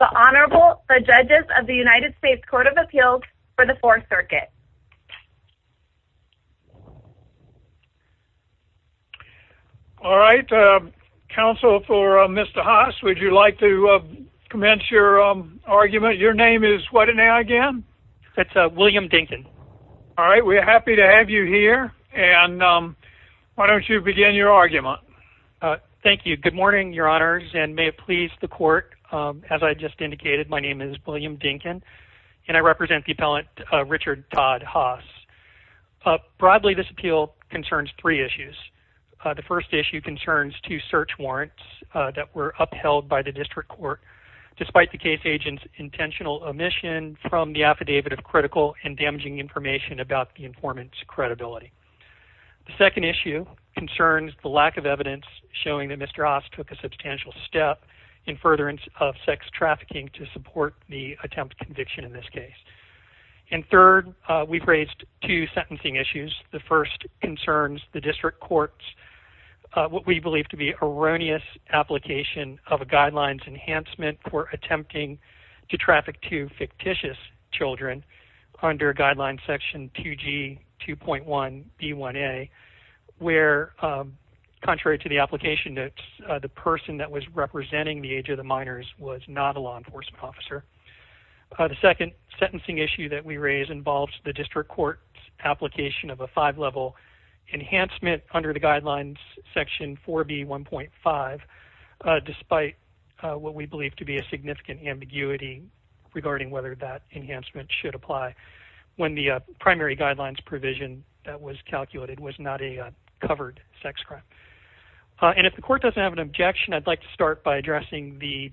The Honorable, the Judges of the United States Court of Appeals for the Fourth Circuit. Alright, Counsel for Mr. Haas, would you like to commence your argument? Your name is what now again? It's William Dinkin. Alright, we're happy to have you here, and why don't you begin your argument. Thank you. Good morning, Your Honors, and may it please the Court, as I just indicated, my name is William Dinkin, and I represent the appellant Richard Todd Haas. Broadly, this appeal concerns three issues. The first issue concerns two search warrants that were upheld by the district court, despite the case agent's intentional omission from the affidavit of critical and damaging information about the informant's credibility. The second issue concerns the lack of evidence showing that Mr. Haas took a substantial step in furtherance of sex trafficking to support the attempted conviction in this case. And third, we've raised two sentencing issues. The first concerns the district court's, what we believe to be erroneous application of a guidelines enhancement for attempting to traffic two fictitious children under Guidelines Section 2G 2.1B1A, where contrary to the application notes, the person that was representing the age of the minors was not a law enforcement officer. The second sentencing issue that we raise involves the district court's application of a five-level enhancement under the Guidelines Section 4B1.5, despite what we believe to be a significant ambiguity regarding whether that enhancement should apply when the primary guidelines provision that was calculated was not a covered sex crime. And if the court doesn't have an objection, I'd like to start by addressing the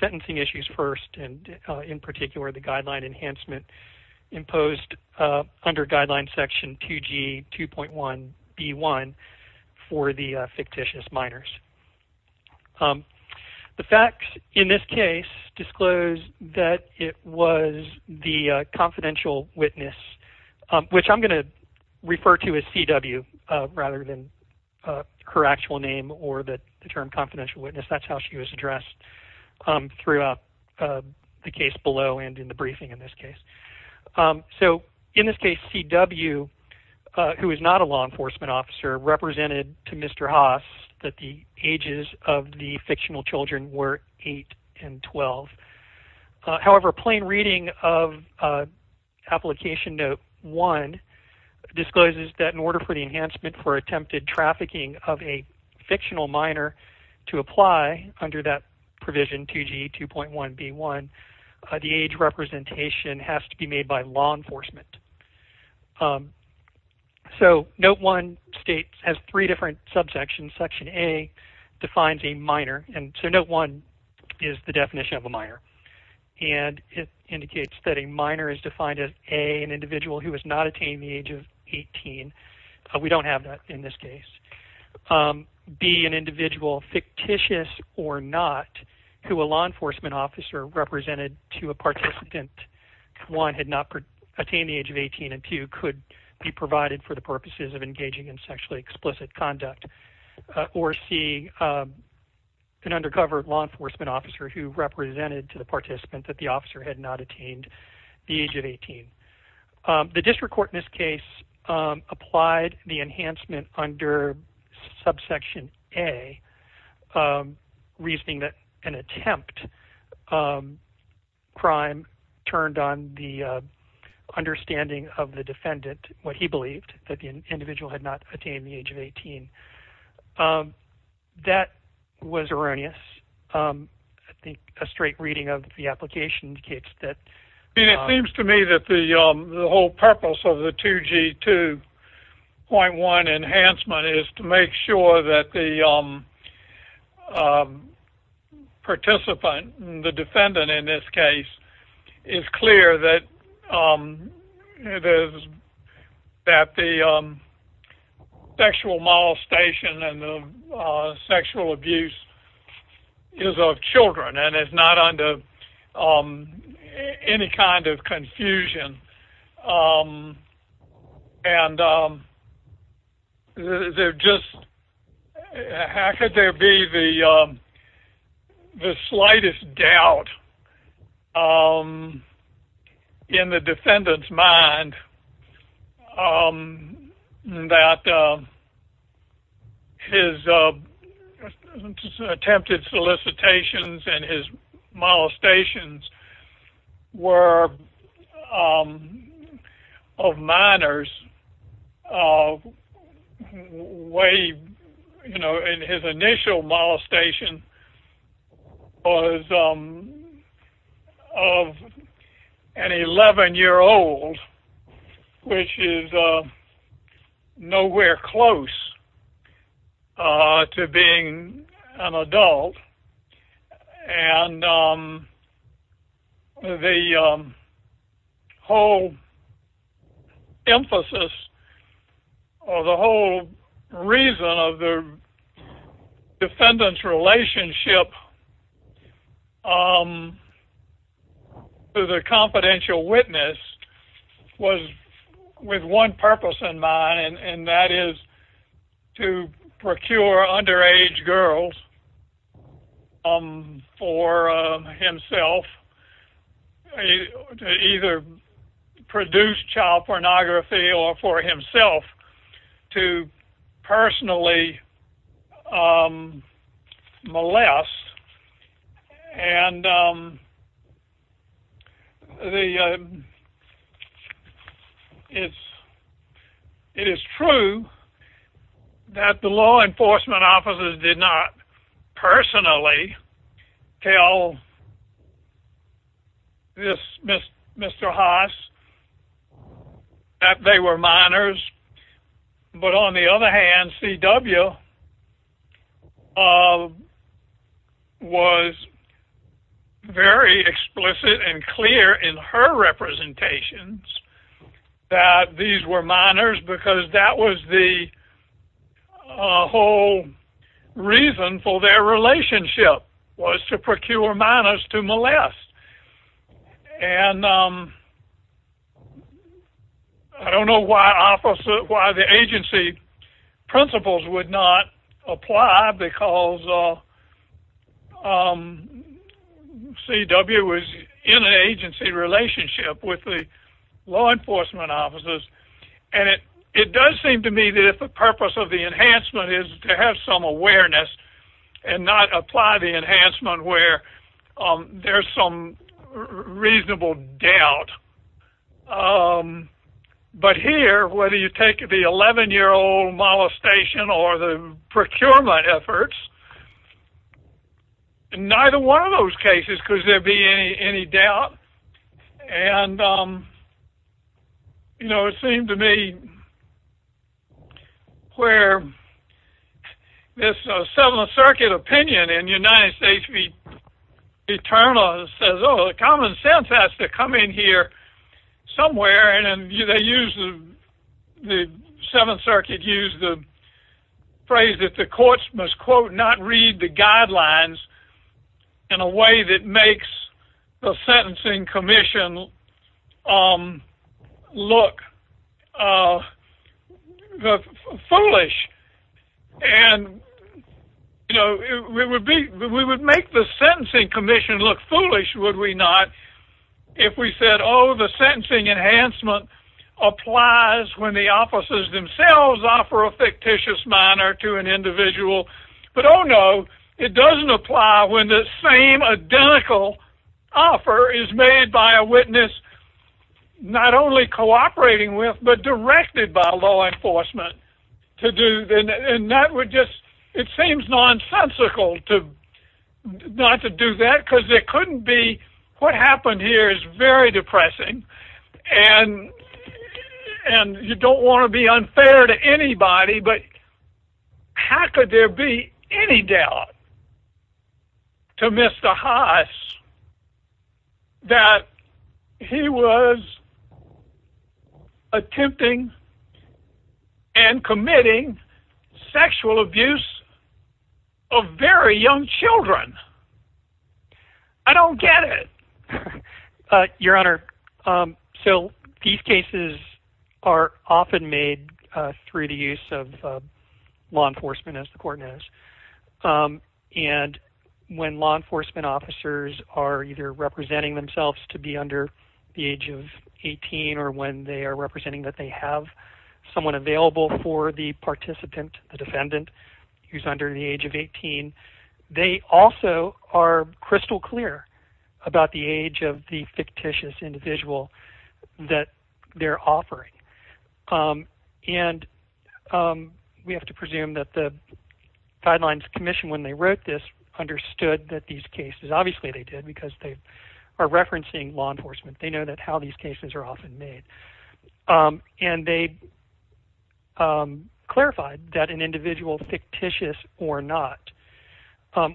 sentencing issues first, and in particular the guideline enhancement imposed under Guidelines Section 2G 2.1B1 for the fictitious minors. The facts in this case disclose that it was the confidential witness, which I'm going to refer to as C.W. rather than her actual name or the term confidential witness. That's how she was addressed throughout the case below and in the briefing in this case. So in this case, C.W., who is not a law enforcement officer, represented to Mr. Haas that the ages of the fictional children were 8 and 12. However, plain reading of Application Note 1 discloses that in order for the enhancement for attempted trafficking of a fictional minor to apply under that provision 2G 2.1B1, the age representation has to be made by law enforcement. So Note 1 states, has three different subsections. Section A defines a minor, and so Note 1 is the definition of a minor. And it indicates that a minor is defined as A, an individual who has not attained the age of 18. We don't have that in this case. B, an individual, fictitious or not, who a law enforcement officer represented to a participant, one, had not attained the age of 18, and two, could be provided for the purposes of engaging in sexually explicit conduct. Or C, an undercover law enforcement officer who represented to the participant that the officer had not attained the age of 18. The district court in this case applied the enhancement under subsection A, reasoning that an attempt crime turned on the understanding of the defendant, what he believed, that the individual had not attained the age of 18. That was erroneous. I think a straight reading of the application indicates that. It seems to me that the whole purpose of the 2G2.1 enhancement is to make sure that the participant, the defendant in this case, is clear that the sexual molestation and the sexual abuse is of children and is not under any kind of confusion. And how could there be the slightest doubt in the defendant's mind that his attempted solicitations and his molestations were of minors, and his initial molestation was of an 11-year-old, which is nowhere close to being an adult. And the whole emphasis or the whole reason of the defendant's relationship to the confidential witness was with one purpose in mind, and that is to procure underage girls for himself, to either produce child pornography or for himself to personally molest. And it is true that the law enforcement officers did not personally tell Mr. Haas that they were minors. But on the other hand, C.W. was very explicit and clear in her representations that these were minors because that was the whole reason for their relationship, was to procure minors to molest. And I don't know why the agency principles would not apply because C.W. was in an agency relationship with the law enforcement officers. And it does seem to me that the purpose of the enhancement is to have some awareness and not apply the enhancement where there's some reasonable doubt. But here, whether you take the 11-year-old molestation or the procurement efforts, in neither one of those cases could there be any doubt. And it seemed to me where this Seventh Circuit opinion in United States v. Eternal says, oh, the common sense has to come in here somewhere, and the Seventh Circuit used the phrase that the courts must, quote, not read the guidelines in a way that makes the sentencing commission look foolish. And we would make the sentencing commission look foolish, would we not, if we said, oh, the sentencing enhancement applies when the officers themselves offer a fictitious minor to an individual. But, oh, no, it doesn't apply when the same identical offer is made by a witness not only cooperating with but directed by law enforcement to do. And that would just, it seems nonsensical not to do that because there couldn't be, what happened here is very depressing, and you don't want to be unfair to anybody, but how could there be any doubt to Mr. Haas that he was attempting and committing sexual abuse of very young children? I don't get it. Your Honor, so these cases are often made through the use of law enforcement, as the court knows. And when law enforcement officers are either representing themselves to be under the age of 18 or when they are representing that they have someone available for the participant, the defendant who's under the age of 18, they also are crystal clear about the age of the fictitious individual that they're offering. And we have to presume that the Guidelines Commission, when they wrote this, understood that these cases, obviously they did because they are referencing law enforcement. They know how these cases are often made. And they clarified that an individual fictitious or not,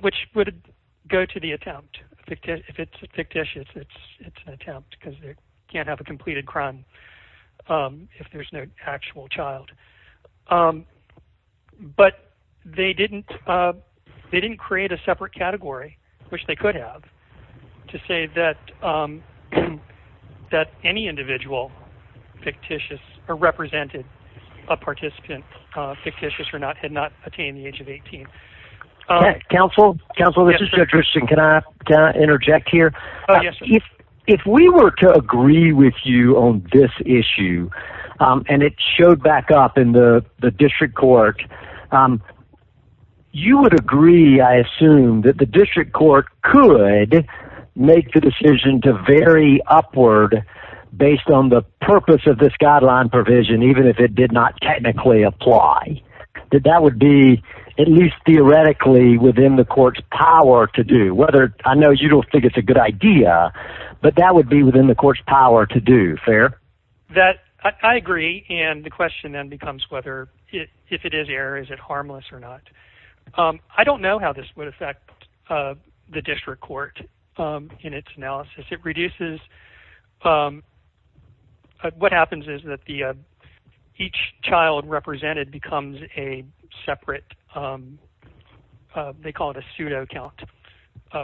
which would go to the attempt. If it's fictitious, it's an attempt because they can't have a completed crime if there's no actual child. But they didn't create a separate category, which they could have, to say that any individual fictitious or represented a participant fictitious or not, had not attained the age of 18. Counsel, this is Judge Richardson. Can I interject here? Yes, sir. If we were to agree with you on this issue, and it showed back up in the district court, you would agree, I assume, that the district court could make the decision to vary upward based on the purpose of this guideline provision, even if it did not technically apply. That that would be, at least theoretically, within the court's power to do. I know you don't think it's a good idea, but that would be within the court's power to do. Fair? I agree, and the question then becomes whether, if it is error, is it harmless or not? I don't know how this would affect the district court in its analysis. It reduces, what happens is that each child represented becomes a separate, they call it a pseudo count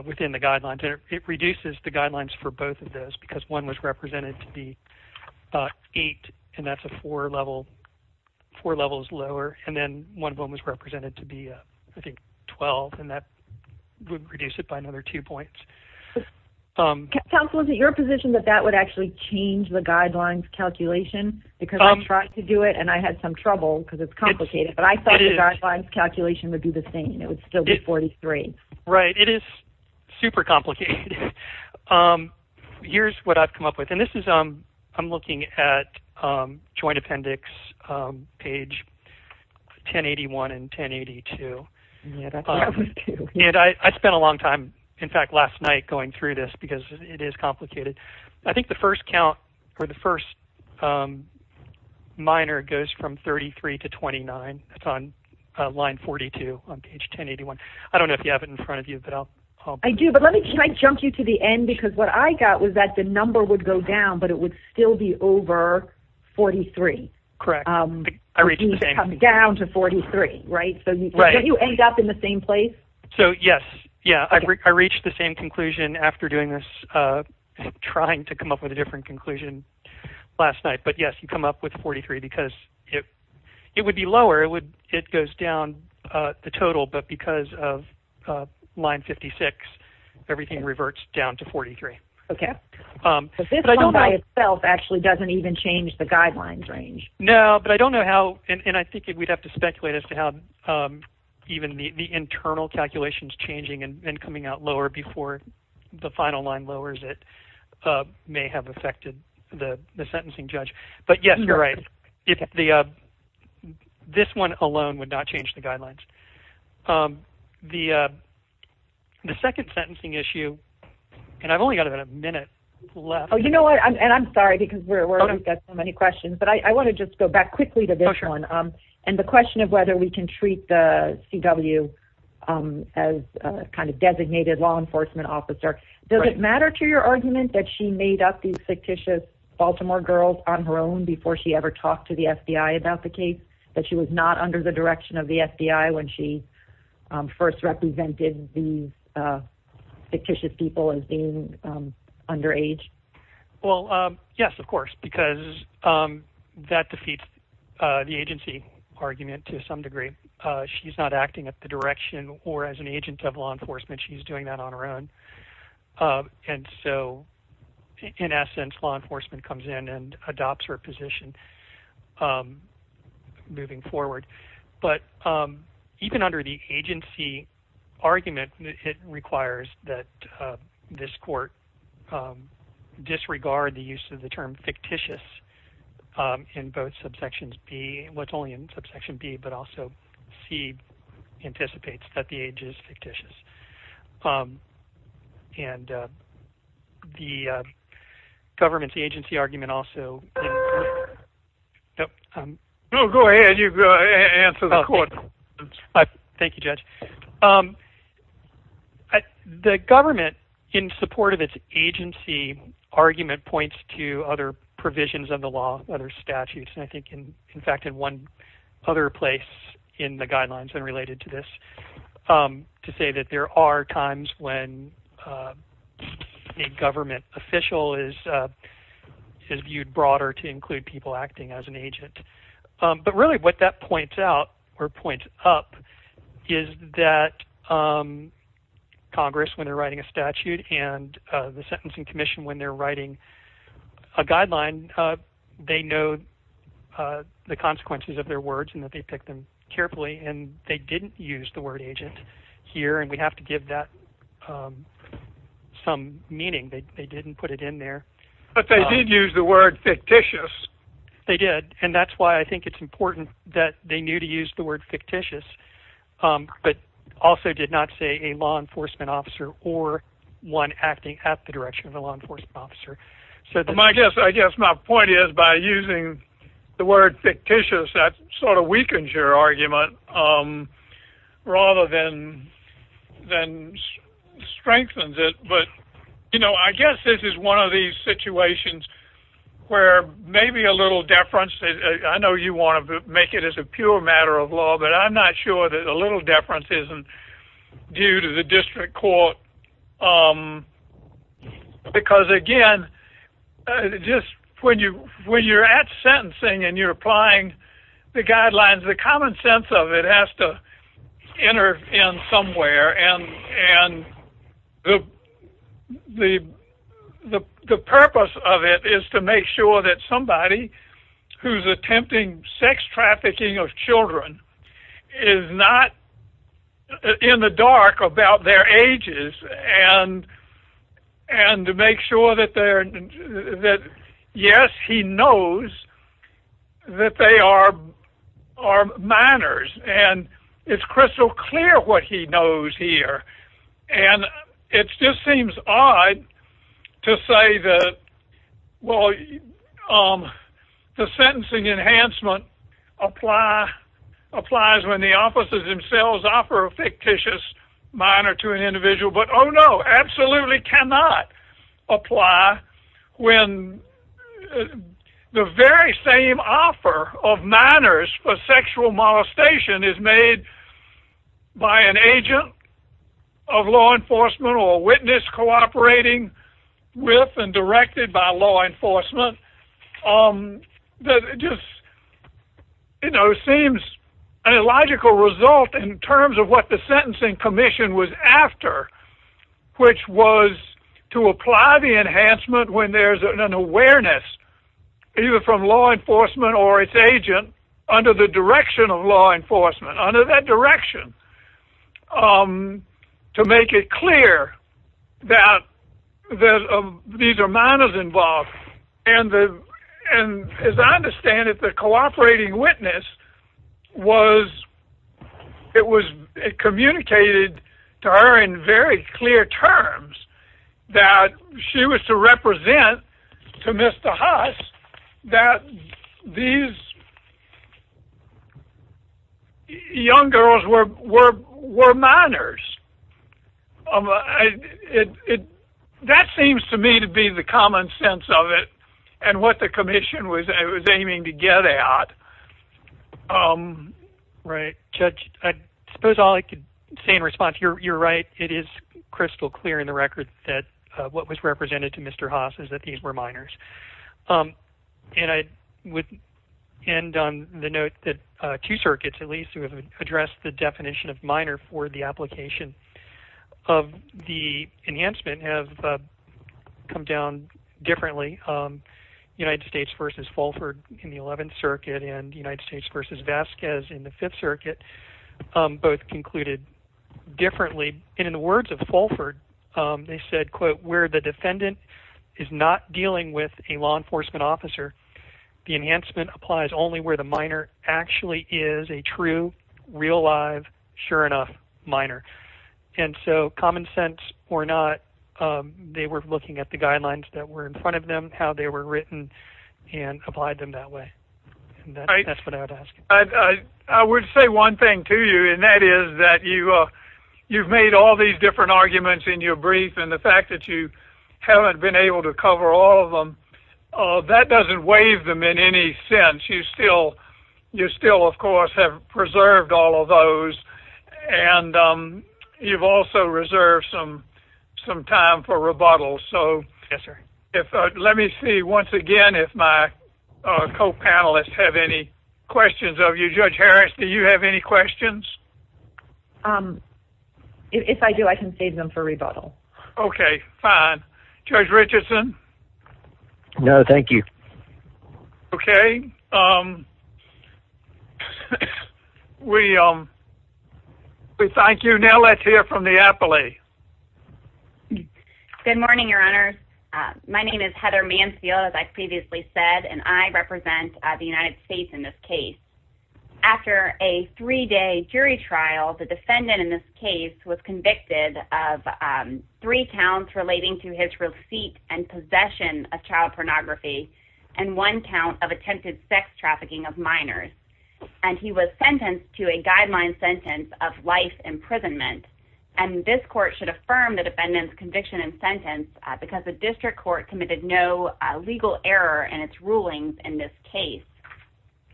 within the guidelines. It reduces the guidelines for both of those, because one was represented to be eight, and that's a four level, four levels lower, and then one of them was represented to be, I think, 12, and that would reduce it by another two points. Counsel, is it your position that that would actually change the guidelines calculation? Because I tried to do it, and I had some trouble, because it's complicated, but I thought the guidelines calculation would be the same. It would still be 43. Right, it is super complicated. Here's what I've come up with, and this is, I'm looking at Joint Appendix page 1081 and 1082, and I spent a long time, in fact, last night going through this, because it is complicated. I think the first count, or the first minor goes from 33 to 29. That's on line 42 on page 1081. I don't know if you have it in front of you. I do, but can I jump you to the end, because what I got was that the number would go down, but it would still be over 43. Correct. I reached the same thing. It would come down to 43, right? So don't you end up in the same place? So yes, I reached the same conclusion after doing this, trying to come up with a different conclusion last night, but yes, you come up with 43, because it would be lower. It goes down the total, but because of line 56, everything reverts down to 43. Okay. So this one by itself actually doesn't even change the guidelines range. No, but I don't know how, and I think we'd have to speculate as to how even the internal calculations changing and coming out lower before the final line lowers it may have affected the sentencing judge, but yes, you're right. This one alone would not change the guidelines. The second sentencing issue, and I've only got about a minute left. Oh, you know what, and I'm sorry because we've got so many questions, but I want to just go back quickly to this one, and the question of whether we can treat the CW as a kind of designated law enforcement officer. Does it matter to your argument that she made up these fictitious Baltimore girls on her own before she ever talked to the FBI about the case, that she was not under the direction of the FBI when she first represented these fictitious people as being underage? Well, yes, of course, because that defeats the agency argument to some degree. She's not acting at the direction or as an agent of law enforcement. She's doing that on her own, and so in essence, law enforcement comes in and adopts her position moving forward, but even under the agency argument, it requires that this court disregard the use of the term fictitious in both subsections B, what's only in subsection B, but also C, anticipates that the age is fictitious, and the government's agency argument also... Oh, go ahead. You answer the court. Thank you, Judge. The government, in support of its agency argument, points to other provisions of the law, other statutes, and I think, in fact, in one other place in the guidelines unrelated to this, to say that there are times when a government official is viewed broader to include people acting as an agent, but really what that points out or points up is that Congress, when they're writing a statute, and the Sentencing Commission, when they're writing a guideline, they know the consequences of their words and that they pick them carefully, and they didn't use the word agent here, and we have to give that some meaning. They didn't put it in there. But they did use the word fictitious. They did, and that's why I think it's important that they knew to use the word fictitious but also did not say a law enforcement officer or one acting at the direction of a law enforcement officer. I guess my point is by using the word fictitious, that sort of weakens your argument rather than strengthens it, but, you know, I guess this is one of these situations where maybe a little deference, I know you want to make it as a pure matter of law, but I'm not sure that a little deference isn't due to the district court because, again, just when you're at sentencing and you're applying the guidelines, the common sense of it has to enter in somewhere, and the purpose of it is to make sure that somebody who's attempting sex trafficking of children is not in the dark about their ages and to make sure that, yes, he knows that they are minors, and it's crystal clear what he knows here. And it just seems odd to say that, well, the sentencing enhancement applies when the officers themselves offer a fictitious minor to an individual, but, oh, no, absolutely cannot apply when the very same offer of minors for sexual molestation is made by an agent of law enforcement or a witness cooperating with and directed by law enforcement. It just seems an illogical result in terms of what the sentencing commission was after, which was to apply the enhancement when there's an awareness either from law enforcement or its agent under the direction of law enforcement, under that direction, to make it clear that these are minors involved. And as I understand it, the cooperating witness, it was communicated to her in very clear terms that she was to represent to Mr. Huss that these young girls were minors. That seems to me to be the common sense of it and what the commission was aiming to get at. Right. Judge, I suppose all I could say in response, you're right. It is crystal clear in the record that what was represented to Mr. Huss is that these were minors. And I would end on the note that two circuits, at least, who have addressed the definition of minor for the application of the enhancement have come down differently, United States versus Fulford in the 11th Circuit and United States versus Vasquez in the 5th Circuit, both concluded differently. And in the words of Fulford, they said, quote, where the defendant is not dealing with a law enforcement officer, the enhancement applies only where the minor actually is a true, real live, sure enough minor. And so common sense or not, they were looking at the guidelines that were in front of them, how they were written, and applied them that way. That's what I would ask. I would say one thing to you, and that is that you've made all these different arguments in your brief, and the fact that you haven't been able to cover all of them, that doesn't waive them in any sense. You still, of course, have preserved all of those. And you've also reserved some time for rebuttals. So let me see once again if my co-panelists have any questions of you. Judge Harris, do you have any questions? If I do, I can save them for rebuttal. Okay, fine. Judge Richardson? No, thank you. Okay. We thank you. Now let's hear from the appellee. Good morning, Your Honors. My name is Heather Mansfield, as I previously said, and I represent the United States in this case. After a three-day jury trial, the defendant in this case was convicted of three counts relating to his receipt and possession of child pornography and one count of attempted sex trafficking of minors. And he was sentenced to a guideline sentence of life imprisonment. And this court should affirm the defendant's conviction and sentence because the district court committed no legal error in its rulings in this case.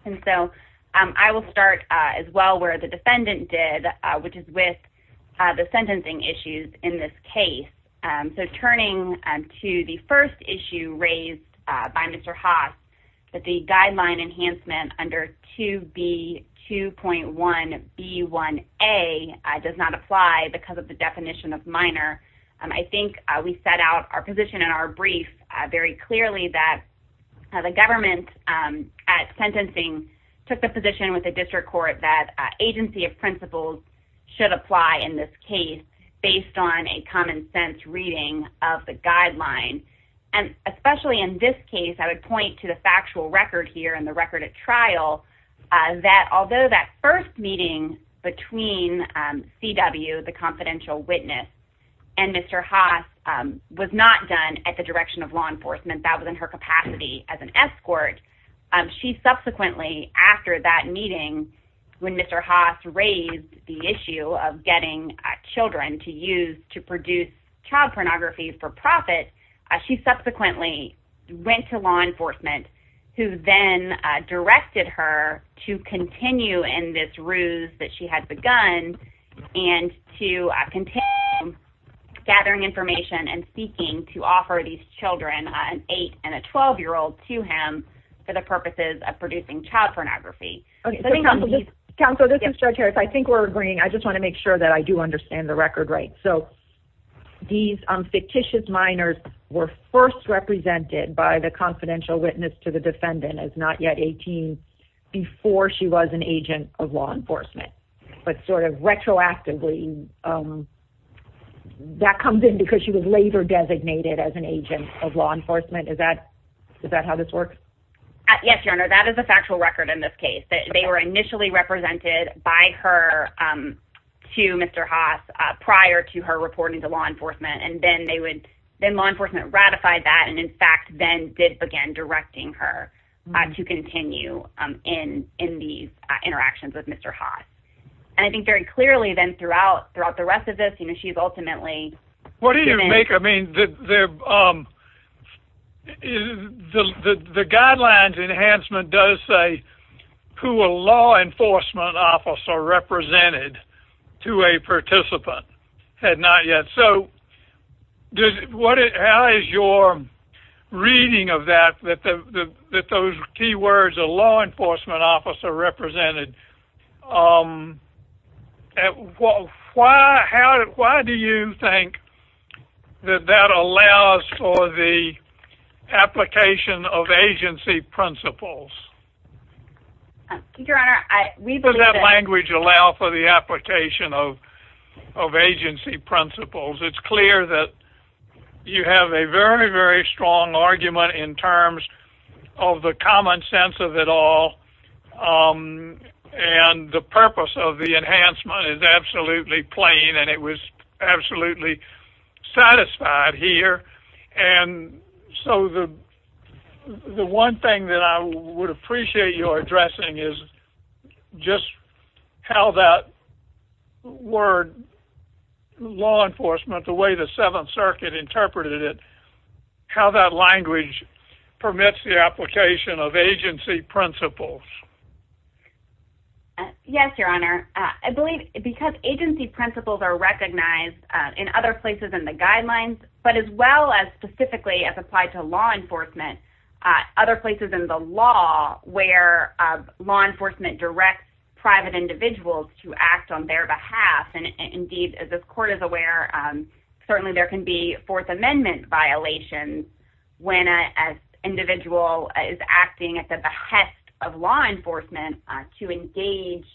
And so I will start as well where the defendant did, which is with the sentencing issues in this case. So turning to the first issue raised by Mr. Haas, that the guideline enhancement under 2B2.1B1A does not apply because of the definition of minor, I think we set out our position in our brief very clearly that the government at sentencing took the position with the district court that agency of principles should apply in this case based on a common sense reading of the guideline. And especially in this case, I would point to the factual record here in the record at trial that although that first meeting between CW, the confidential witness, and Mr. Haas was not done at the direction of law enforcement, that was in her capacity as an escort, she subsequently, after that meeting, when Mr. Haas raised the issue of getting children to use to produce child pornography for profit, she subsequently went to law enforcement who then directed her to continue in this ruse that she had begun and to continue gathering information and seeking to offer these children, an 8- and a 12-year-old, to him for the purposes of producing child pornography. Counsel, this is Judge Harris. I think we're agreeing. I just want to make sure that I do understand the record right. So these fictitious minors were first represented by the confidential witness to the defendant as not yet 18 before she was an agent of law enforcement. But sort of retroactively, that comes in because she was later designated as an agent of law enforcement. Is that how this works? Yes, Your Honor, that is a factual record in this case. They were initially represented by her to Mr. Haas prior to her reporting to law enforcement, and then law enforcement ratified that and, in fact, then did begin directing her to continue in these interactions with Mr. Haas. And I think very clearly then throughout the rest of this, she's ultimately given— What do you make of—I mean, the guidelines enhancement does say who a law enforcement officer represented to a participant had not yet. So how is your reading of that, that those key words, a law enforcement officer represented, why do you think that that allows for the application of agency principles? Your Honor, we believe that— Does that language allow for the application of agency principles? It's clear that you have a very, very strong argument in terms of the common sense of it all. And the purpose of the enhancement is absolutely plain, and it was absolutely satisfied here. And so the one thing that I would appreciate your addressing is just how that word law enforcement, the way the Seventh Circuit interpreted it, how that language permits the application of agency principles. Yes, Your Honor. I believe because agency principles are recognized in other places in the guidelines, but as well as specifically as applied to law enforcement, other places in the law where law enforcement directs private individuals to act on their behalf. And indeed, as this Court is aware, certainly there can be Fourth Amendment violations when an individual is acting at the behest of law enforcement to engage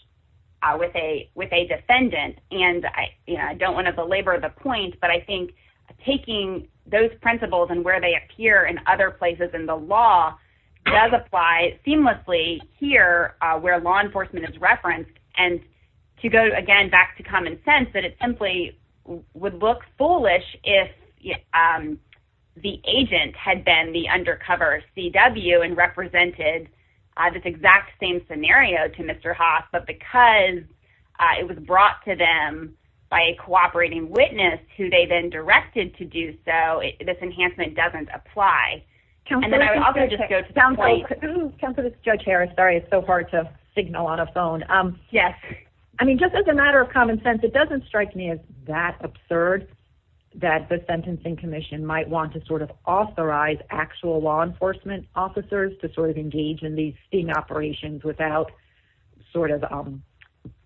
with a defendant. And I don't want to belabor the point, but I think taking those principles and where they appear in other places in the law does apply seamlessly here where law enforcement is referenced. And to go again back to common sense, that it simply would look foolish if the agent had been the undercover CW and represented this exact same scenario to Mr. Haas, but because it was brought to them by a cooperating witness who they then directed to do so, this enhancement doesn't apply. Counselor, this is Judge Harris. Sorry, it's so hard to signal on a phone. Yes. I mean, just as a matter of common sense, it doesn't strike me as that absurd that the Sentencing Commission might want to sort of authorize actual law enforcement officers to sort of engage in these sting operations without sort of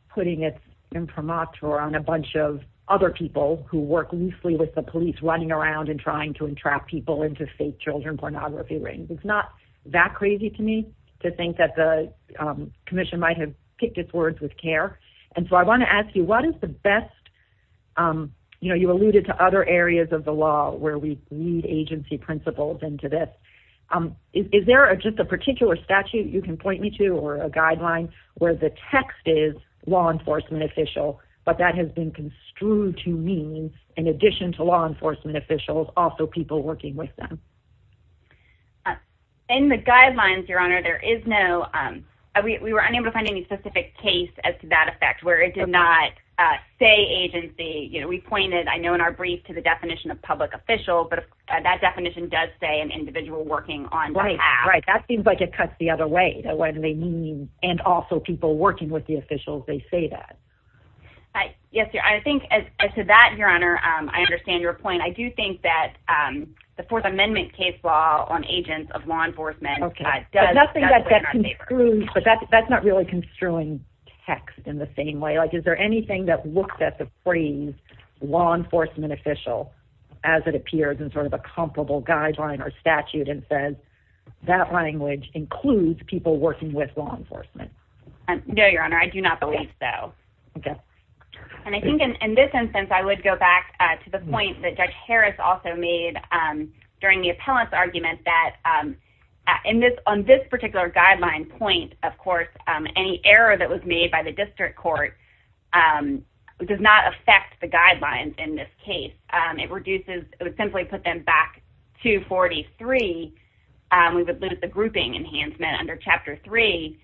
putting its imprimatur on a bunch of other people who work loosely with the police running around and trying to entrap people into fake children pornography rings. It's not that crazy to me to think that the commission might have picked its words with care. And so I want to ask you, what is the best – you alluded to other areas of the law where we need agency principles into this. Is there just a particular statute you can point me to or a guideline where the text is law enforcement official, but that has been construed to mean, in addition to law enforcement officials, also people working with them? In the guidelines, Your Honor, there is no – we were unable to find any specific case as to that effect where it did not say agency. We pointed, I know, in our brief to the definition of public official, but that definition does say an individual working on behalf. Right, right. That seems like it cuts the other way. What do they mean, and also people working with the officials, they say that. Yes, Your Honor. I think as to that, Your Honor, I understand your point. I do think that the Fourth Amendment case law on agents of law enforcement does play in our favor. But that's not really construing text in the same way. Is there anything that looks at the phrase law enforcement official as it appears in sort of a comparable guideline or statute and says that language includes people working with law enforcement? No, Your Honor. I do not believe so. Okay. And I think in this instance, I would go back to the point that Judge Harris also made during the appellant's argument that on this particular guideline point, of course, any error that was made by the district court does not affect the guidelines in this case. It reduces, it would simply put them back to 43. We would lose the grouping enhancement under Chapter 3,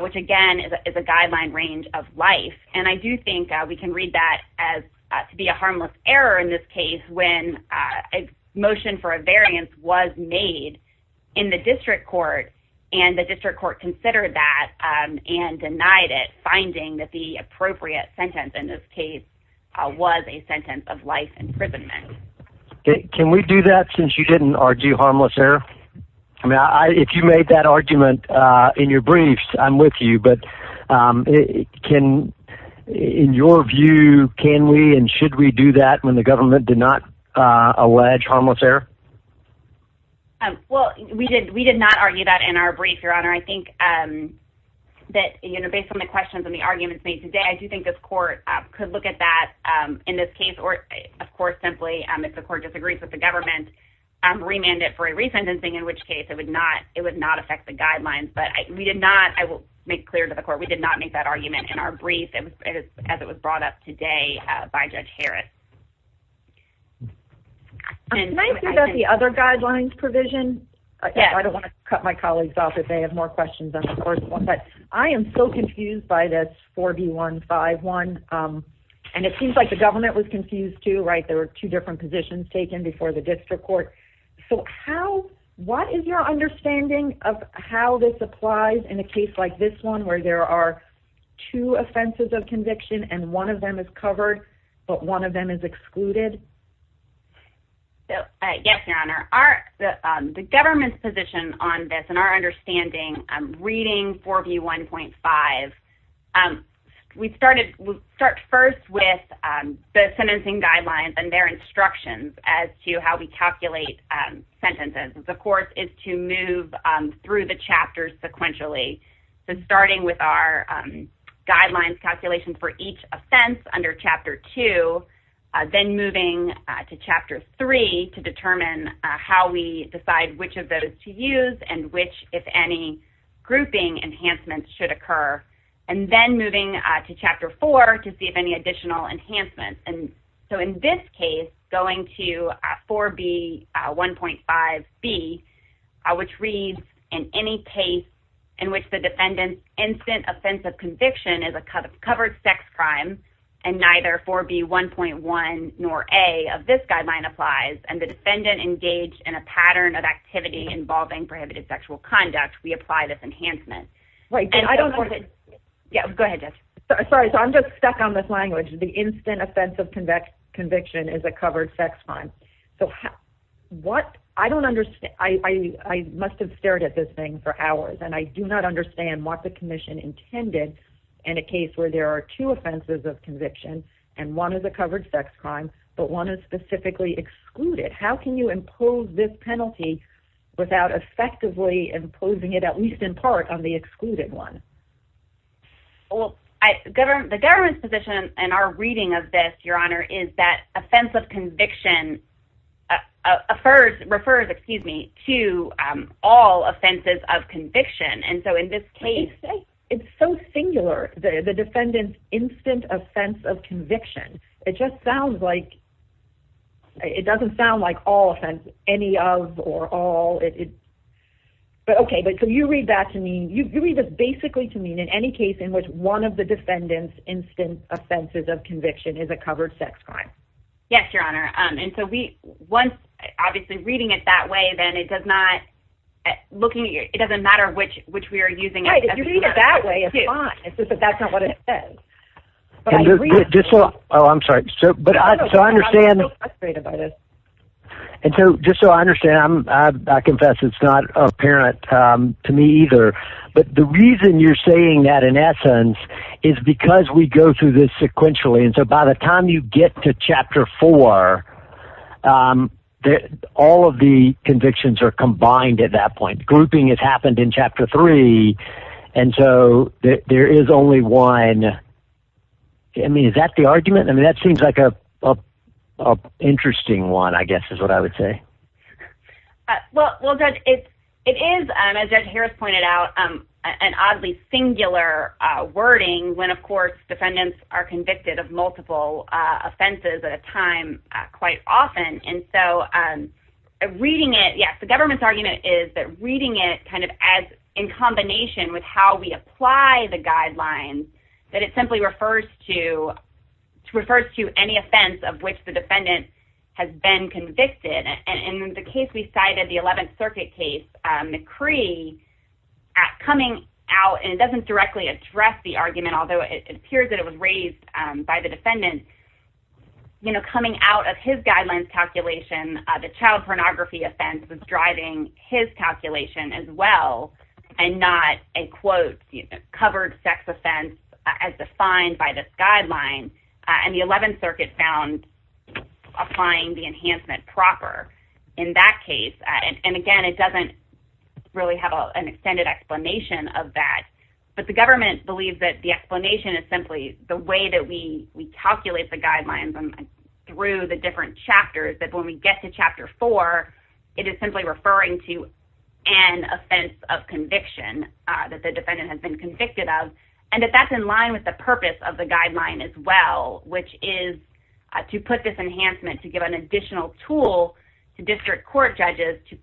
which again is a guideline range of life. And I do think we can read that as to be a harmless error in this case when a motion for a variance was made in the district court and the district court considered that and denied it, finding that the appropriate sentence in this case was a sentence of life imprisonment. Can we do that since you didn't argue harmless error? If you made that argument in your briefs, I'm with you. But in your view, can we and should we do that when the government did not allege harmless error? Well, we did not argue that in our brief, Your Honor. I think that based on the questions and the arguments made today, I do think this court could look at that in this case or, of course, simply if the court disagrees with the government, remand it for a resentencing, in which case it would not affect the guidelines. But we did not, I will make clear to the court, we did not make that argument in our brief as it was brought up today by Judge Harris. Can I ask you about the other guidelines provision? I don't want to cut my colleagues off if they have more questions than the first one. But I am so confused by this 4B151. And it seems like the government was confused too, right? There were two different positions taken before the district court. So what is your understanding of how this applies in a case like this one where there are two offenses of conviction and one of them is covered, but one of them is excluded? Yes, Your Honor. The government's position on this and our understanding, reading 4B1.5, we start first with the sentencing guidelines and their instructions as to how we calculate sentences. The course is to move through the chapters sequentially. So starting with our guidelines calculation for each offense under Chapter 2, then moving to Chapter 3 to determine how we decide which of those to use and which, if any, grouping enhancements should occur. And then moving to Chapter 4 to see if any additional enhancements. So in this case, going to 4B1.5B, which reads, in any case in which the defendant's instant offense of conviction is a covered sex crime and neither 4B1.1 nor A of this guideline applies and the defendant engaged in a pattern of activity involving prohibited sexual conduct, we apply this enhancement. Go ahead, Judge. Sorry, so I'm just stuck on this language. The instant offense of conviction is a covered sex crime. I must have stared at this thing for hours and I do not understand what the commission intended in a case where there are two offenses of conviction and one is a covered sex crime but one is specifically excluded. How can you impose this penalty without effectively imposing it, at least in part, on the excluded one? What I'm hearing is that offense of conviction refers to all offenses of conviction. And so in this case... It's so singular, the defendant's instant offense of conviction. It just sounds like it doesn't sound like all offense, any of or all. Okay, but can you read that to me? You read this basically to me in any case in which one of the defendant's instant offenses of conviction is a covered sex crime. Yes, Your Honor. And so we, once, obviously, reading it that way, then it does not, looking at your, it doesn't matter which we are using. Right, if you read it that way, it's fine. It's just that that's not what it says. But I read it. Just so, oh, I'm sorry. So I understand. I'm so frustrated by this. And so just so I understand, I confess it's not apparent to me either, but the reason you're saying that, in essence, is because we go through this sequentially. And so by the time you get to Chapter 4, all of the convictions are combined at that point. Grouping has happened in Chapter 3. And so there is only one. I mean, is that the argument? I mean, that seems like an interesting one, I guess, is what I would say. Well, Judge, it is, as Judge Harris pointed out, an oddly singular wording when, of course, defendants are convicted of multiple offenses at a time quite often. And so reading it, yes, the government's argument is that reading it kind of as in combination with how we apply the guidelines, that it simply refers to any offense of which the defendant has been convicted. And in the case we cited, the 11th Circuit case, McCree coming out, and it doesn't directly address the argument, although it appears that it was raised by the defendant, coming out of his guidelines calculation, the child pornography offense was driving his calculation as well, and not a, quote, covered sex offense as defined by this guideline. And the 11th Circuit found applying the enhancement proper in that case. And again, it doesn't really have an extended explanation of that. But the government believes that the explanation is simply the way that we calculate the guidelines through the different chapters, that when we get to Chapter 4, it is simply referring to an offense of conviction that the defendant has been convicted of, and that that's in line with the purpose of the guideline as well, which is to put this enhancement, to give an additional tool to district court judges to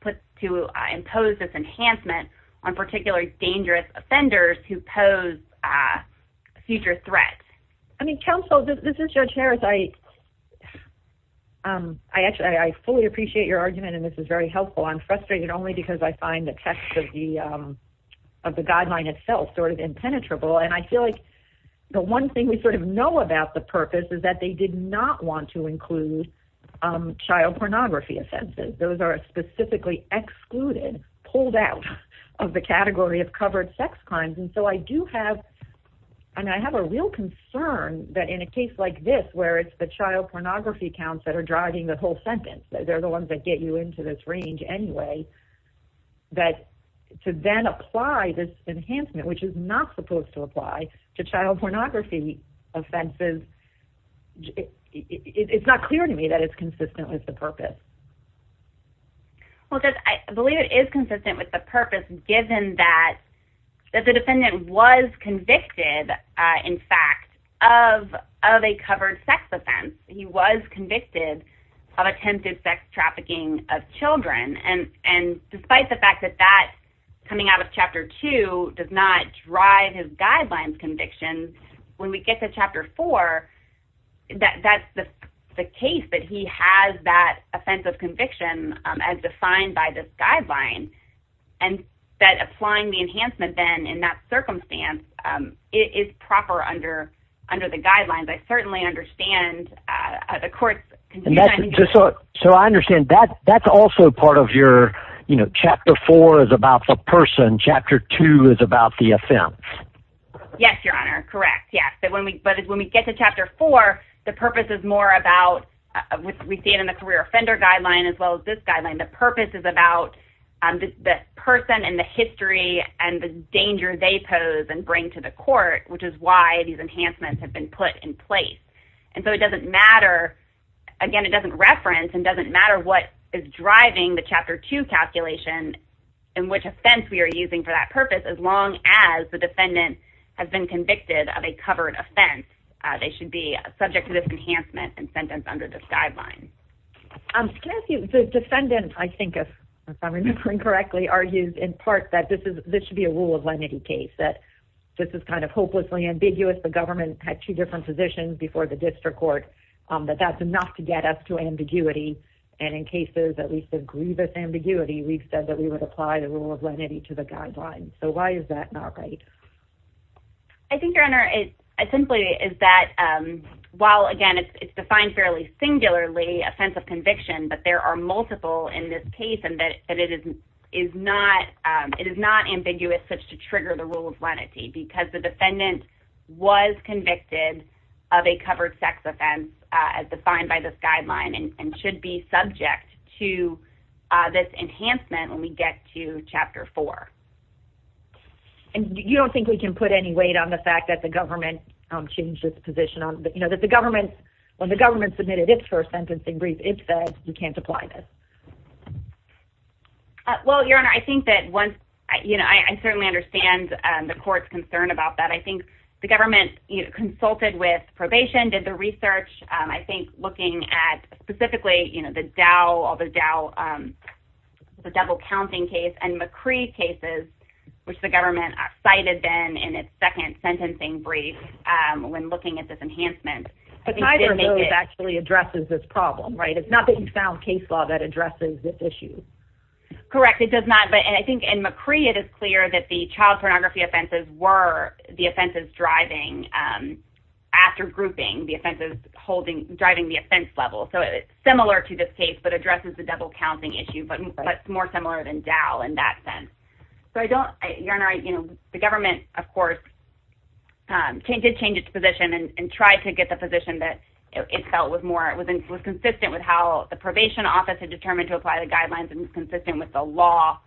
impose this enhancement on particularly dangerous offenders who pose a future threat. I mean, counsel, this is Judge Harris. I fully appreciate your argument, and this is very helpful. I'm frustrated only because I find the text of the guideline itself sort of impenetrable. And I feel like the one thing we sort of know about the purpose is that they did not want to include child pornography offenses. Those are specifically excluded, pulled out of the category of covered sex crimes. And so I do have, and I have a real concern that in a case like this, where it's the child pornography counts that are driving the whole sentence, they're the ones that get you into this range anyway, that to then apply this enhancement, which is not supposed to apply to child pornography offenses, it's not clear to me that it's consistent with the purpose. Well, Judge, I believe it is consistent with the purpose, given that the defendant was convicted, in fact, of a covered sex offense. He was convicted of attempted sex trafficking of children. And despite the fact that that coming out of Chapter 2 does not drive his guidelines conviction, when we get to Chapter 4, that's the case that he has that offense of conviction as defined by this guideline. And that applying the enhancement then in that circumstance is proper under the guidelines. I certainly understand the courts. So I understand that that's also part of your, you know, Chapter 4 is about the person. Chapter 2 is about the offense. Yes, Your Honor. Correct. Yeah. So when we, but when we get to Chapter 4, the purpose is more about, we see it in the career offender guideline as well as this guideline. The purpose is about the person and the history and the danger they pose and which is why these enhancements have been put in place. And so it doesn't matter. Again, it doesn't reference and doesn't matter what is driving the Chapter 2 calculation and which offense we are using for that purpose. As long as the defendant has been convicted of a covered offense, they should be subject to this enhancement and sentence under this guideline. Can I ask you, the defendant, I think, if I'm remembering correctly, argues in part that this is, this should be a rule of lenity case, that this is kind of hopelessly ambiguous. The government had two different positions before the district court, but that's enough to get us to ambiguity. And in cases that we said grievous ambiguity, we've said that we would apply the rule of lenity to the guidelines. So why is that not right? I think Your Honor, it simply is that while again, it's defined fairly singularly offense of conviction, but there are multiple in this case and that it is not, it is not ambiguous such to trigger the rule of lenity because the defendant was convicted of a covered sex offense as defined by this guideline and should be subject to this enhancement when we get to Chapter 4. And you don't think we can put any weight on the fact that the government changed its position on, you know, that the government, when the government submitted its first sentencing brief, it said you can't apply this. Well, Your Honor, I think that once, you know, I certainly understand the court's concern about that. I think the government consulted with probation, did the research. I think looking at specifically, you know, the Dow, all the Dow, the double counting case and McCree cases, which the government cited then in its second sentencing brief when looking at this enhancement. But neither of those actually addresses this problem, right? It's not that you found case law that addresses this issue. Correct. It does not. But I think in McCree, it is clear that the child pornography offenses were the offenses driving after grouping the offenses holding, driving the offense level. So it's similar to this case, but addresses the double counting issue, but more similar than Dow in that sense. So I don't, Your Honor, I, you know, the government, of course, did change its position and tried to get the position that it felt was more, was consistent with how the probation office had determined to apply the guidelines and was consistent with the law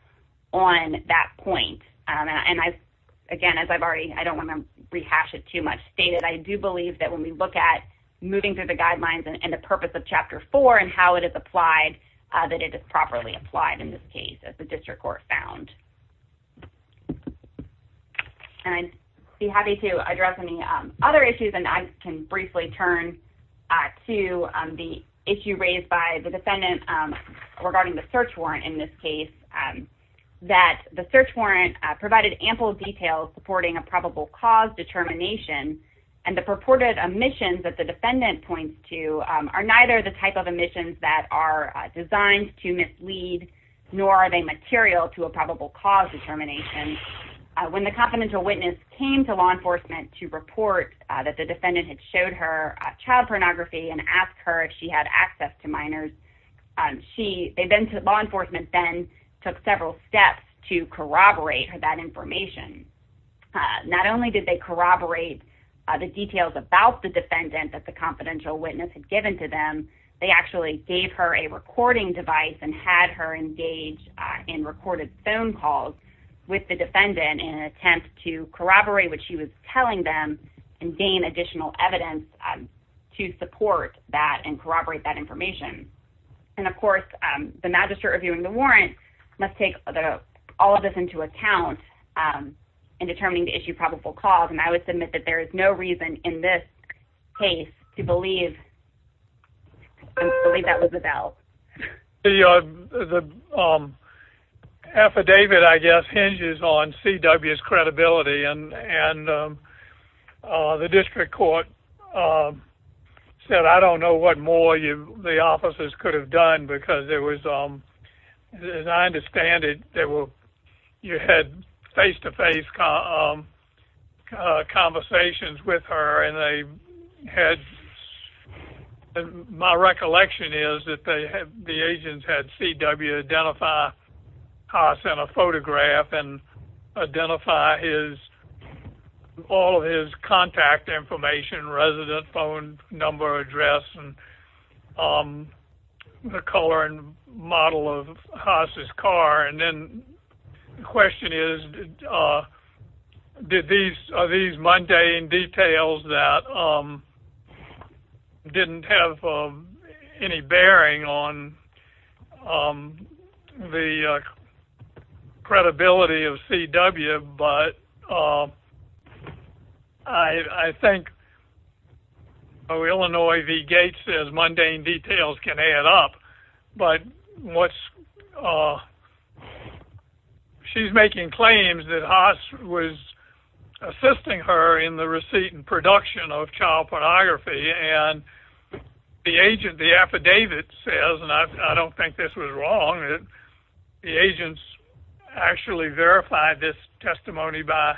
on that point. And I, again, as I've already, I don't want to rehash it too much, stated I do believe that when we look at moving through the guidelines and the purpose of Chapter 4 and how it is applied, that it is properly applied in this case, as the district court found. And I'd be happy to address any other issues, and I can briefly turn to the issue raised by the defendant regarding the search warrant in this case, that the search warrant provided ample details supporting a probable cause determination and the purported omissions that the defendant points to are material to a probable cause determination. When the confidential witness came to law enforcement to report that the defendant had showed her child pornography and asked her if she had access to minors, she, law enforcement then took several steps to corroborate that information. Not only did they corroborate the details about the defendant that the confidential witness had given to them, they actually gave her a recording device and had her engage in recorded phone calls with the defendant in an attempt to corroborate what she was telling them and gain additional evidence to support that and corroborate that information. And, of course, the magistrate reviewing the warrant must take all of this into account in determining the issue of probable cause. And I would submit that there is no reason in this case to believe that was about. The affidavit, I guess, hinges on C.W.'s credibility, and the district court said, I don't know what more the officers could have done because there was, as I understand it, you had face-to-face conversations with her, and my recollection is that the agents had C.W. identify Haas in a photograph and identify all of his contact information, resident phone number, address, and the color and model of Haas' car. And then the question is, are these mundane details that didn't have any bearing on the credibility of C.W.? But I think Illinois v. Gates says mundane details can add up, but she's making claims that Haas was assisting her in the receipt and production of child pornography. And the agent, the affidavit says, and I don't think this was wrong, the agents actually verified this testimony by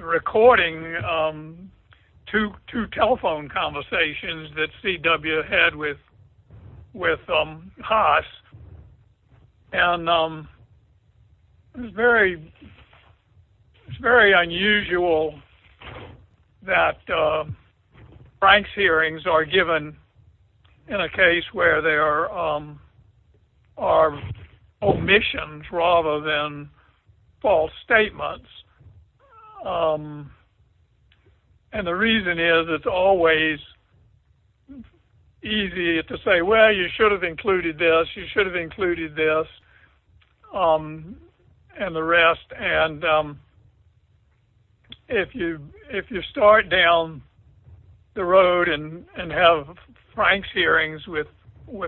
recording two telephone conversations that C.W. had with Haas. And it's very unusual that Frank's hearings are given in a case where there are omissions rather than false statements. And the reason is it's always easy to say, well, you should have included this, you should have included this, and the rest. And if you start down the road and have Frank's hearings with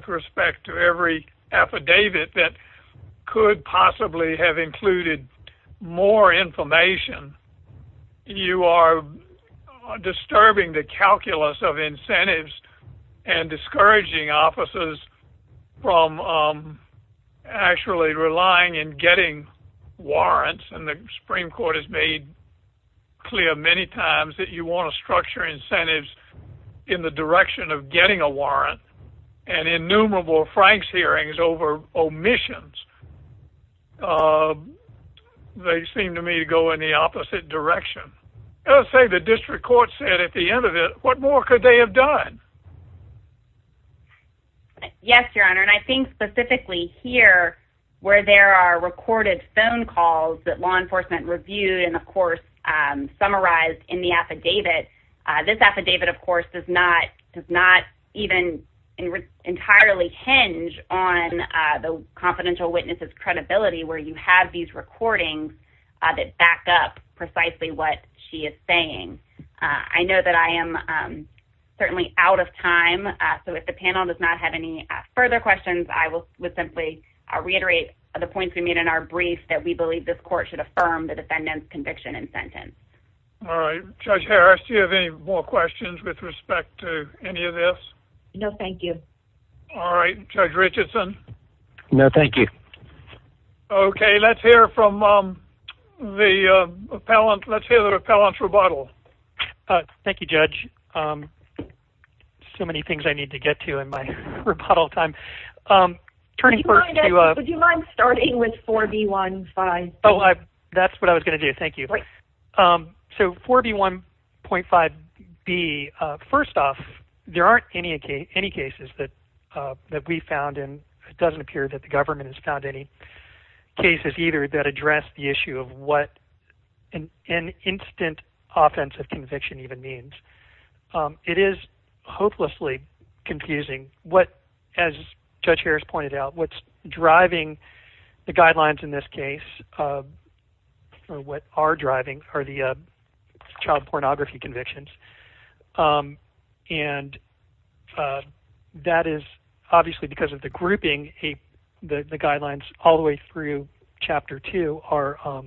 respect to every affidavit that could possibly have included more information, you are disturbing the calculus of incentives and discouraging officers from actually relying and getting warrants. And the Supreme Court has made clear many times that you want to structure incentives in the direction of getting a warrant. And innumerable Frank's hearings over omissions, they seem to me to go in the opposite direction. Let's say the district court said at the end of it, what more could they have done? Yes, Your Honor. And I think specifically here where there are recorded phone calls that law enforcement reviewed and, of course, summarized in the affidavit, this affidavit, of course, does not even entirely hinge on the confidential witness's credibility where you have these recordings that back up precisely what she is saying. I know that I am certainly out of time. So if the panel does not have any further questions, I would simply reiterate the points we made in our brief that we believe this court should affirm the defendant's conviction and sentence. All right. Judge Harris, do you have any more questions with respect to any of this? No, thank you. All right. Judge Richardson? No, thank you. Okay. Let's hear from the appellant. Let's hear the appellant's rebuttal. Thank you, Judge. So many things I need to get to in my rebuttal time. Would you mind starting with 4B15B? That's what I was going to do. Thank you. So 4B1.5B, first off, there aren't any cases that we found, and it doesn't appear that the government has found any cases either that address the issue of what an instant offensive conviction even means. It is hopelessly confusing what, as Judge Harris pointed out, what's driving the guidelines in this case, or what are driving are the child pornography convictions. And that is obviously because of the grouping, the guidelines all the way through Chapter 2 are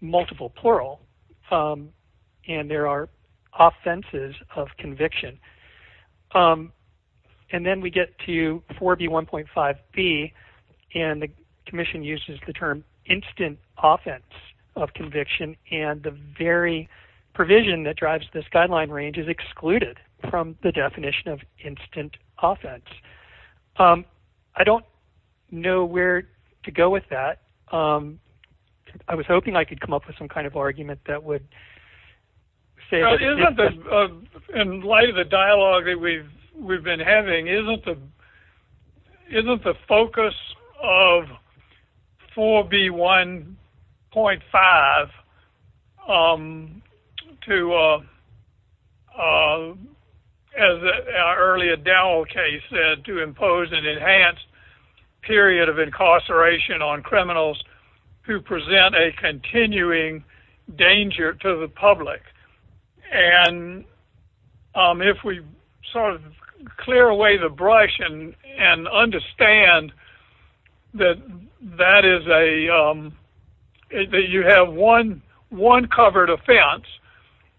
multiple plural, and there are offenses of conviction. And then we get to 4B1.5B, and the commission uses the term instant offense of conviction, and the very provision that drives this guideline range is excluded from the definition of instant offense. I don't know where to go with that. I was hoping I could come up with some kind of argument that would say that. In light of the dialogue that we've been having, isn't the focus of 4B1.5 to, as our earlier Dowell case said, to impose an enhanced period of incarceration on criminals who present a And if we sort of clear away the brush and understand that that is a, that you have one covered offense,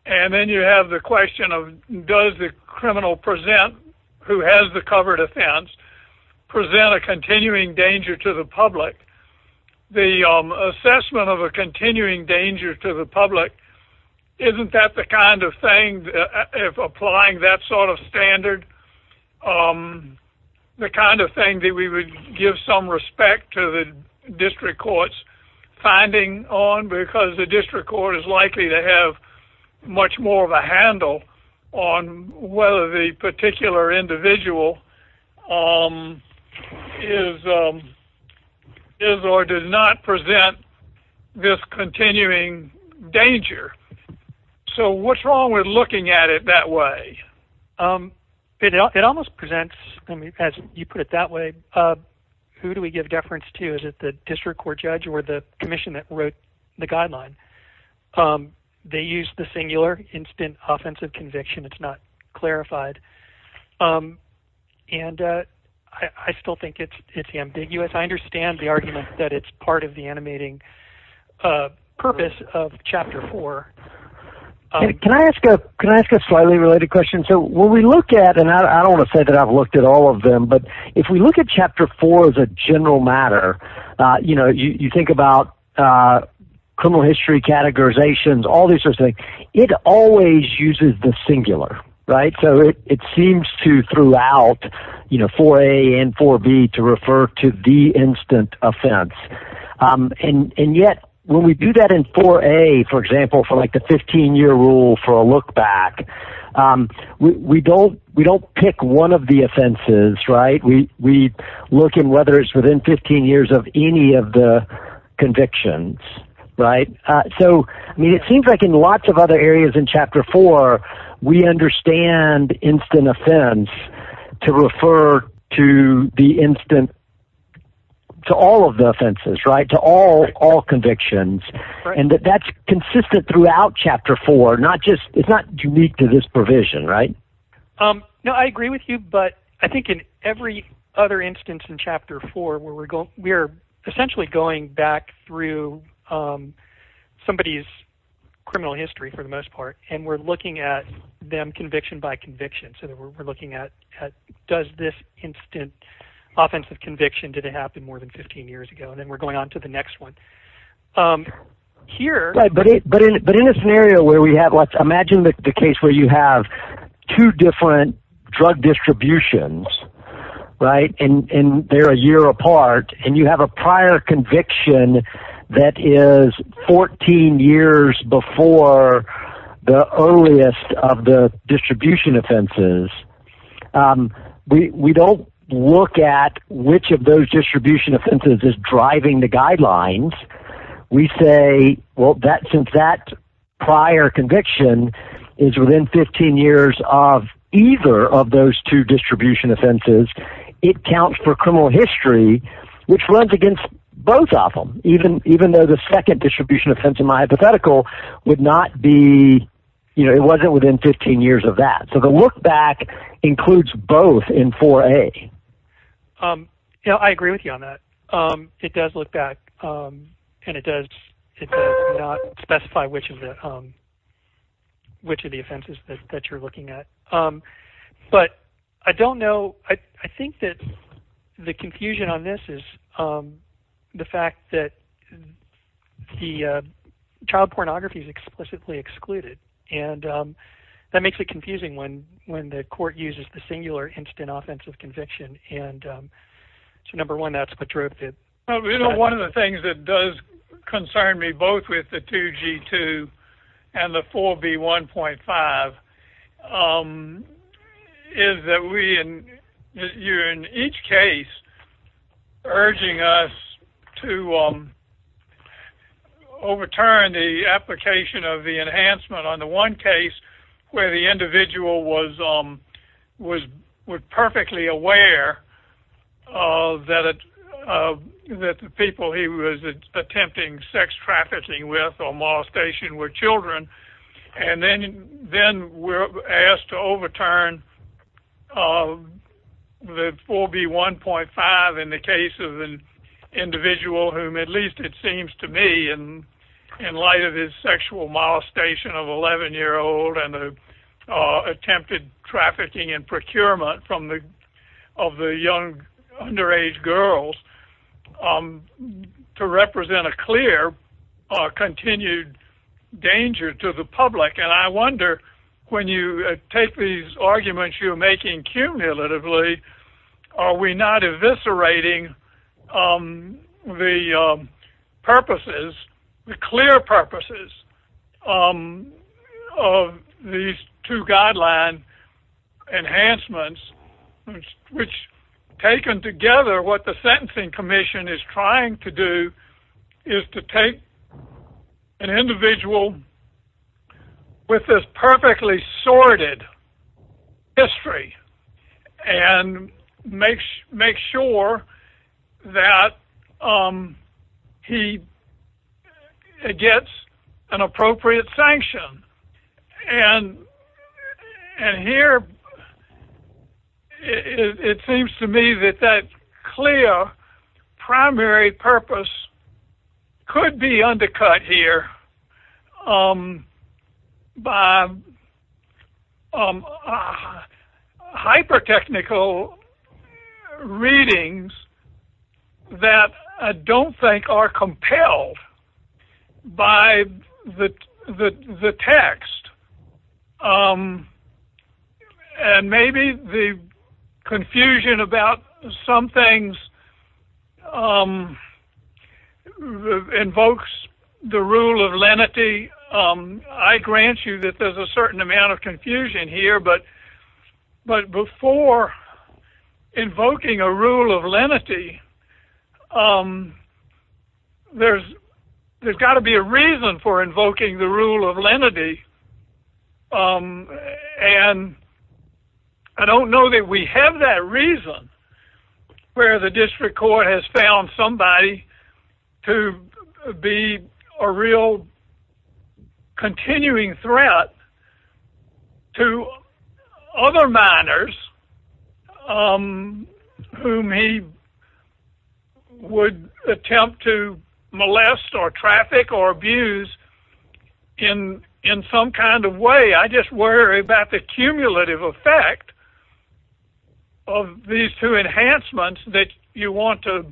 and then you have the question of does the criminal present, who has the covered offense, present a continuing danger to the public, the assessment of a continuing danger to the public, isn't that the kind of thing, if applying that sort of standard, the kind of thing that we would give some respect to the district court's finding on? Because the district court is likely to have much more of a handle on whether the particular individual is or does not present this continuing danger. So what's wrong with looking at it that way? It almost presents, as you put it that way, who do we give deference to? Is it the district court judge or the commission that wrote the guideline? They use the singular instant offensive conviction. It's not clarified. And I still think it's ambiguous. I understand the argument that it's part of the animating purpose of Chapter 4. Can I ask a slightly related question? So when we look at, and I don't want to say that I've looked at all of them, but if we look at Chapter 4 as a general matter, you think about criminal history categorizations, all these sorts of things. It always uses the singular. So it seems to throughout 4A and 4B to refer to the instant offense. And yet when we do that in 4A, for example, for like the 15-year rule for a look back, we don't pick one of the offenses. We look at whether it's within 15 years of any of the convictions. So it seems like in lots of other areas in Chapter 4, we understand instant offense to refer to all of the offenses, to all convictions, and that that's consistent throughout Chapter 4. It's not unique to this provision. No, I agree with you, but I think in every other instance in Chapter 4 we're essentially going back through somebody's criminal history for the most part, and we're looking at them conviction by conviction. So we're looking at does this instant offensive conviction, did it happen more than 15 years ago? And then we're going on to the next one. But in a scenario where we have, let's imagine the case where you have two different drug distributions, right, and they're a year apart, and you have a prior conviction that is 14 years before the earliest of the distribution offenses, we don't look at which of those distribution offenses is driving the guidelines. We say, well, since that prior conviction is within 15 years of either of those two distribution offenses, it counts for criminal history, which runs against both of them, even though the second distribution offense in my hypothetical would not be, you know, it wasn't within 15 years of that. So the look back includes both in 4A. I agree with you on that. It does look back, and it does not specify which of the offenses that you're looking at. But I don't know. I think that the confusion on this is the fact that the child pornography is explicitly excluded, and that makes it confusing when the court uses the singular instant offensive conviction. So number one, that's patriotic. You know, one of the things that does concern me, both with the 2G2 and the 4B1.5, is that you're in each case urging us to overturn the application of the enhancement on the one case where the individual was perfectly aware that the people he was attempting sex trafficking with or molestation were children, and then we're asked to overturn the 4B1.5 in the case of an individual whom at least it seems to me, in light of his sexual molestation of an 11-year-old and the attempted trafficking and procurement of the young underage girls, to represent a clear continued danger to the public. And I wonder when you take these arguments you're making cumulatively, are we not eviscerating the purposes, the clear purposes of these two guideline enhancements, which taken together, what the Sentencing Commission is trying to do is to take an individual with this perfectly sorted history and make sure that he gets an appropriate sanction. And here it seems to me that that clear primary purpose could be undercut here by hyper-technical readings that I don't think are compelled by the text. And maybe the confusion about some things invokes the rule of lenity. I grant you that there's a certain amount of confusion here, but before invoking a rule of lenity, there's got to be a reason for invoking the rule of lenity. And I don't know that we have that reason where the district court has found somebody to be a real continuing threat to other minors whom he would attempt to molest or traffic or abuse in some kind of way. I just worry about the cumulative effect of these two enhancements that you want to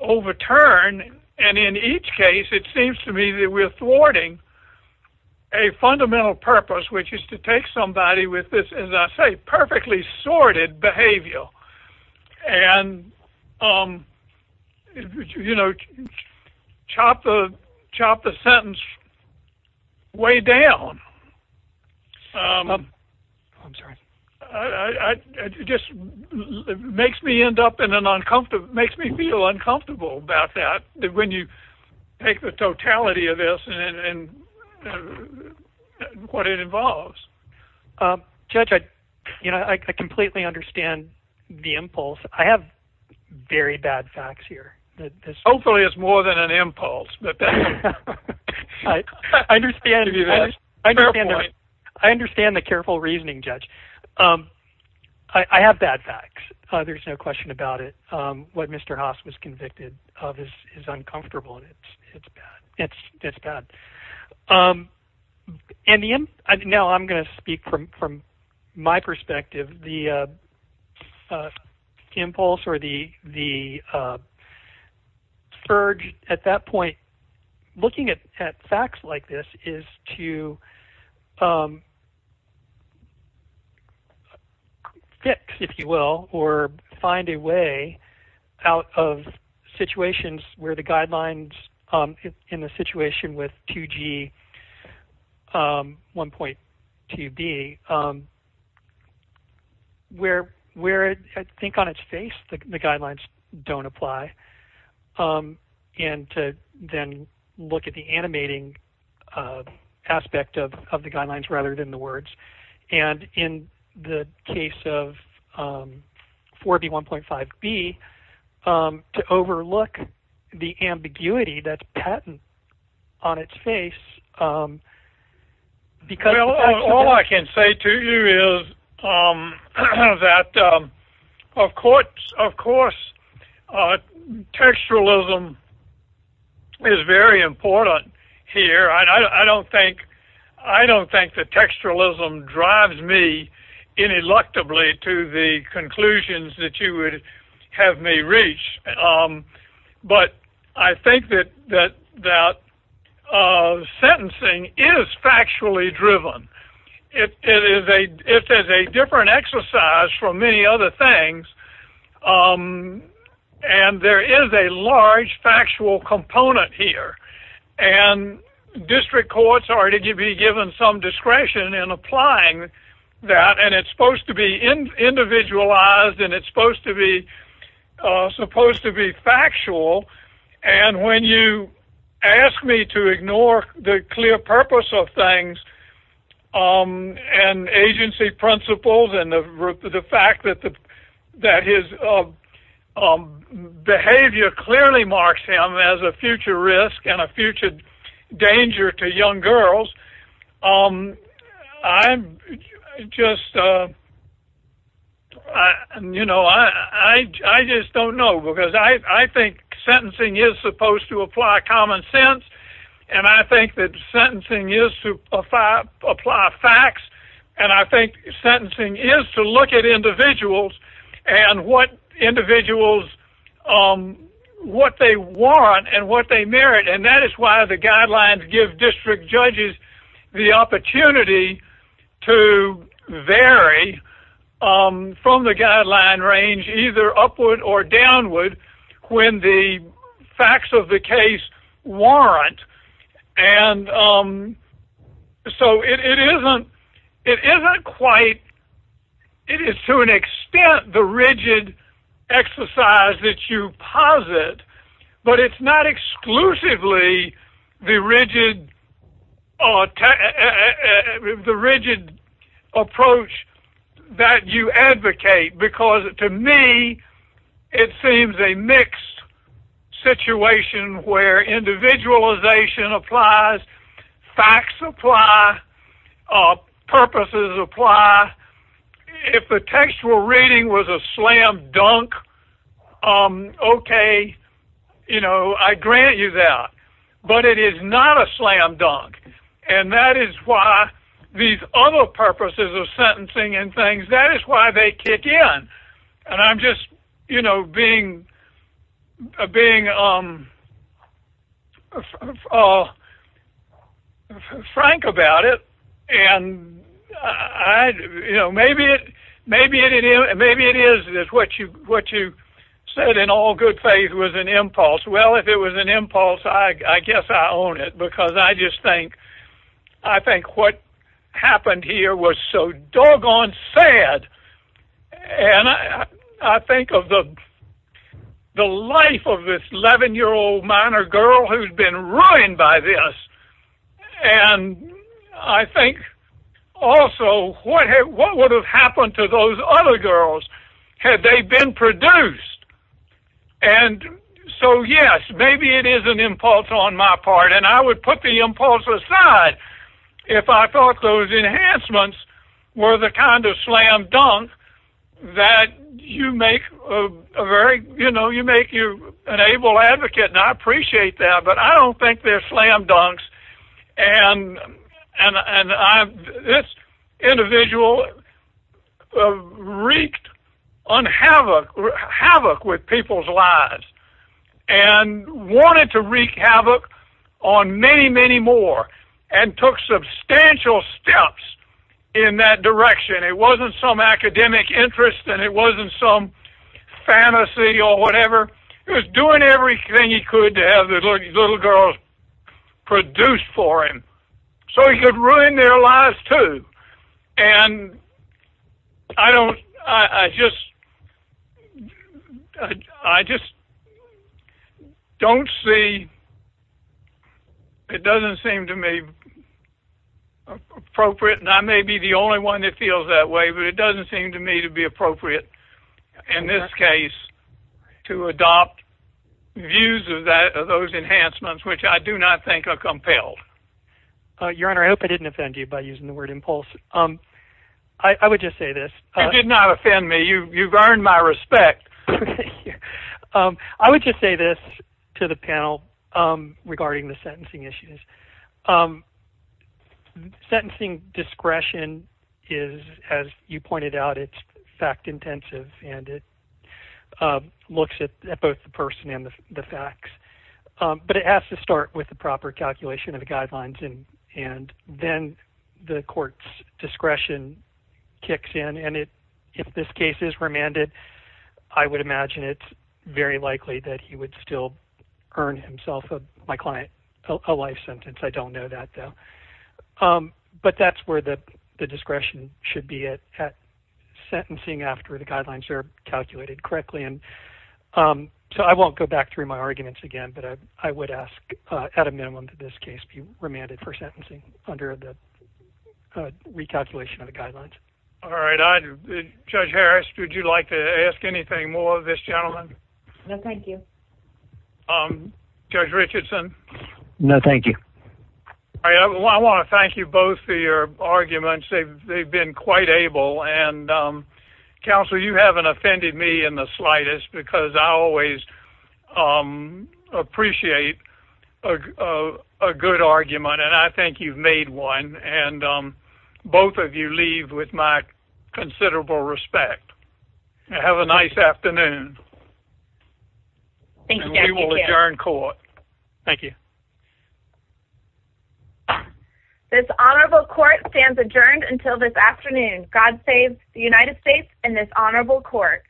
overturn. And in each case, it seems to me that we're thwarting a fundamental purpose, which is to take somebody with this, as I say, perfectly sorted behavior and chop the sentence way down. It just makes me feel uncomfortable about that when you take the totality of this and what it involves. Judge, I completely understand the impulse. I have very bad facts here. Hopefully it's more than an impulse. I understand the careful reasoning, Judge. I have bad facts. There's no question about it. What Mr. Haas was convicted of is uncomfortable, and it's bad. Now I'm going to speak from my perspective. The impulse or the urge at that point, looking at facts like this, is to fix, if you will, or find a way out of situations where the guidelines in the situation with 2G 1.2b, where I think on its face the guidelines don't apply, and to then look at the animating aspect of the guidelines rather than the words. And in the case of 4B 1.5b, to overlook the ambiguity that's patent on its face, because the fact that— All I can say to you is that, of course, textualism is very important here. I don't think that textualism drives me ineluctably to the conclusions that you would have me reach. But I think that sentencing is factually driven. It is a different exercise from many other things, and there is a large factual component here. And district courts are to be given some discretion in applying that, and it's supposed to be individualized and it's supposed to be factual. And when you ask me to ignore the clear purpose of things and agency principles and the fact that his behavior clearly marks him as a future risk and a future danger to young girls, I just don't know. Because I think sentencing is supposed to apply common sense, and I think that sentencing is to apply facts, and I think sentencing is to look at individuals and what individuals—what they want and what they merit. And that is why the guidelines give district judges the opportunity to vary from the guideline range, either upward or downward, when the facts of the case warrant. And so it isn't quite—it is to an extent the rigid exercise that you posit, but it's not exclusively the rigid approach that you advocate, because to me it seems a mixed situation where individualization applies, facts apply, purposes apply. If the textual reading was a slam dunk, okay, you know, I grant you that, but it is not a slam dunk. And that is why these other purposes of sentencing and things, that is why they kick in. And I'm just, you know, being frank about it, and maybe it is what you said in all good faith was an impulse. Well, if it was an impulse, I guess I own it, because I just think what happened here was so doggone sad. And I think of the life of this 11-year-old minor girl who's been ruined by this, and I think also what would have happened to those other girls had they been produced? And so yes, maybe it is an impulse on my part, and I would put the impulse aside if I thought those enhancements were the kind of slam dunk that you make a very— you know, you make an able advocate, and I appreciate that, but I don't think they're slam dunks. And this individual wreaked havoc with people's lives, and wanted to wreak havoc on many, many more, and took substantial steps in that direction. It wasn't some academic interest, and it wasn't some fantasy or whatever. He was doing everything he could to have these little girls produced for him, so he could ruin their lives, too. And I just don't see—it doesn't seem to me appropriate, and I may be the only one that feels that way, but it doesn't seem to me to be appropriate in this case to adopt views of those enhancements, which I do not think are compelled. Your Honor, I hope I didn't offend you by using the word impulse. I would just say this— You did not offend me. You've earned my respect. I would just say this to the panel regarding the sentencing issues. Sentencing discretion is, as you pointed out, it's fact-intensive, and it looks at both the person and the facts. But it has to start with the proper calculation of the guidelines, and then the court's discretion kicks in. And if this case is remanded, I would imagine it's very likely that he would still earn himself, my client, a life sentence. I don't know that, though. But that's where the discretion should be, at sentencing, after the guidelines are calculated correctly. And so I won't go back through my arguments again, but I would ask, at a minimum, that this case be remanded for sentencing under the recalculation of the guidelines. All right. Judge Harris, would you like to ask anything more of this gentleman? No, thank you. Judge Richardson? No, thank you. All right. I want to thank you both for your arguments. They've been quite able. And, counsel, you haven't offended me in the slightest, because I always appreciate a good argument, and I think you've made one. And both of you leave with my considerable respect. Have a nice afternoon. Thank you, Judge. And we will adjourn court. Thank you. This honorable court stands adjourned until this afternoon. God save the United States and this honorable court.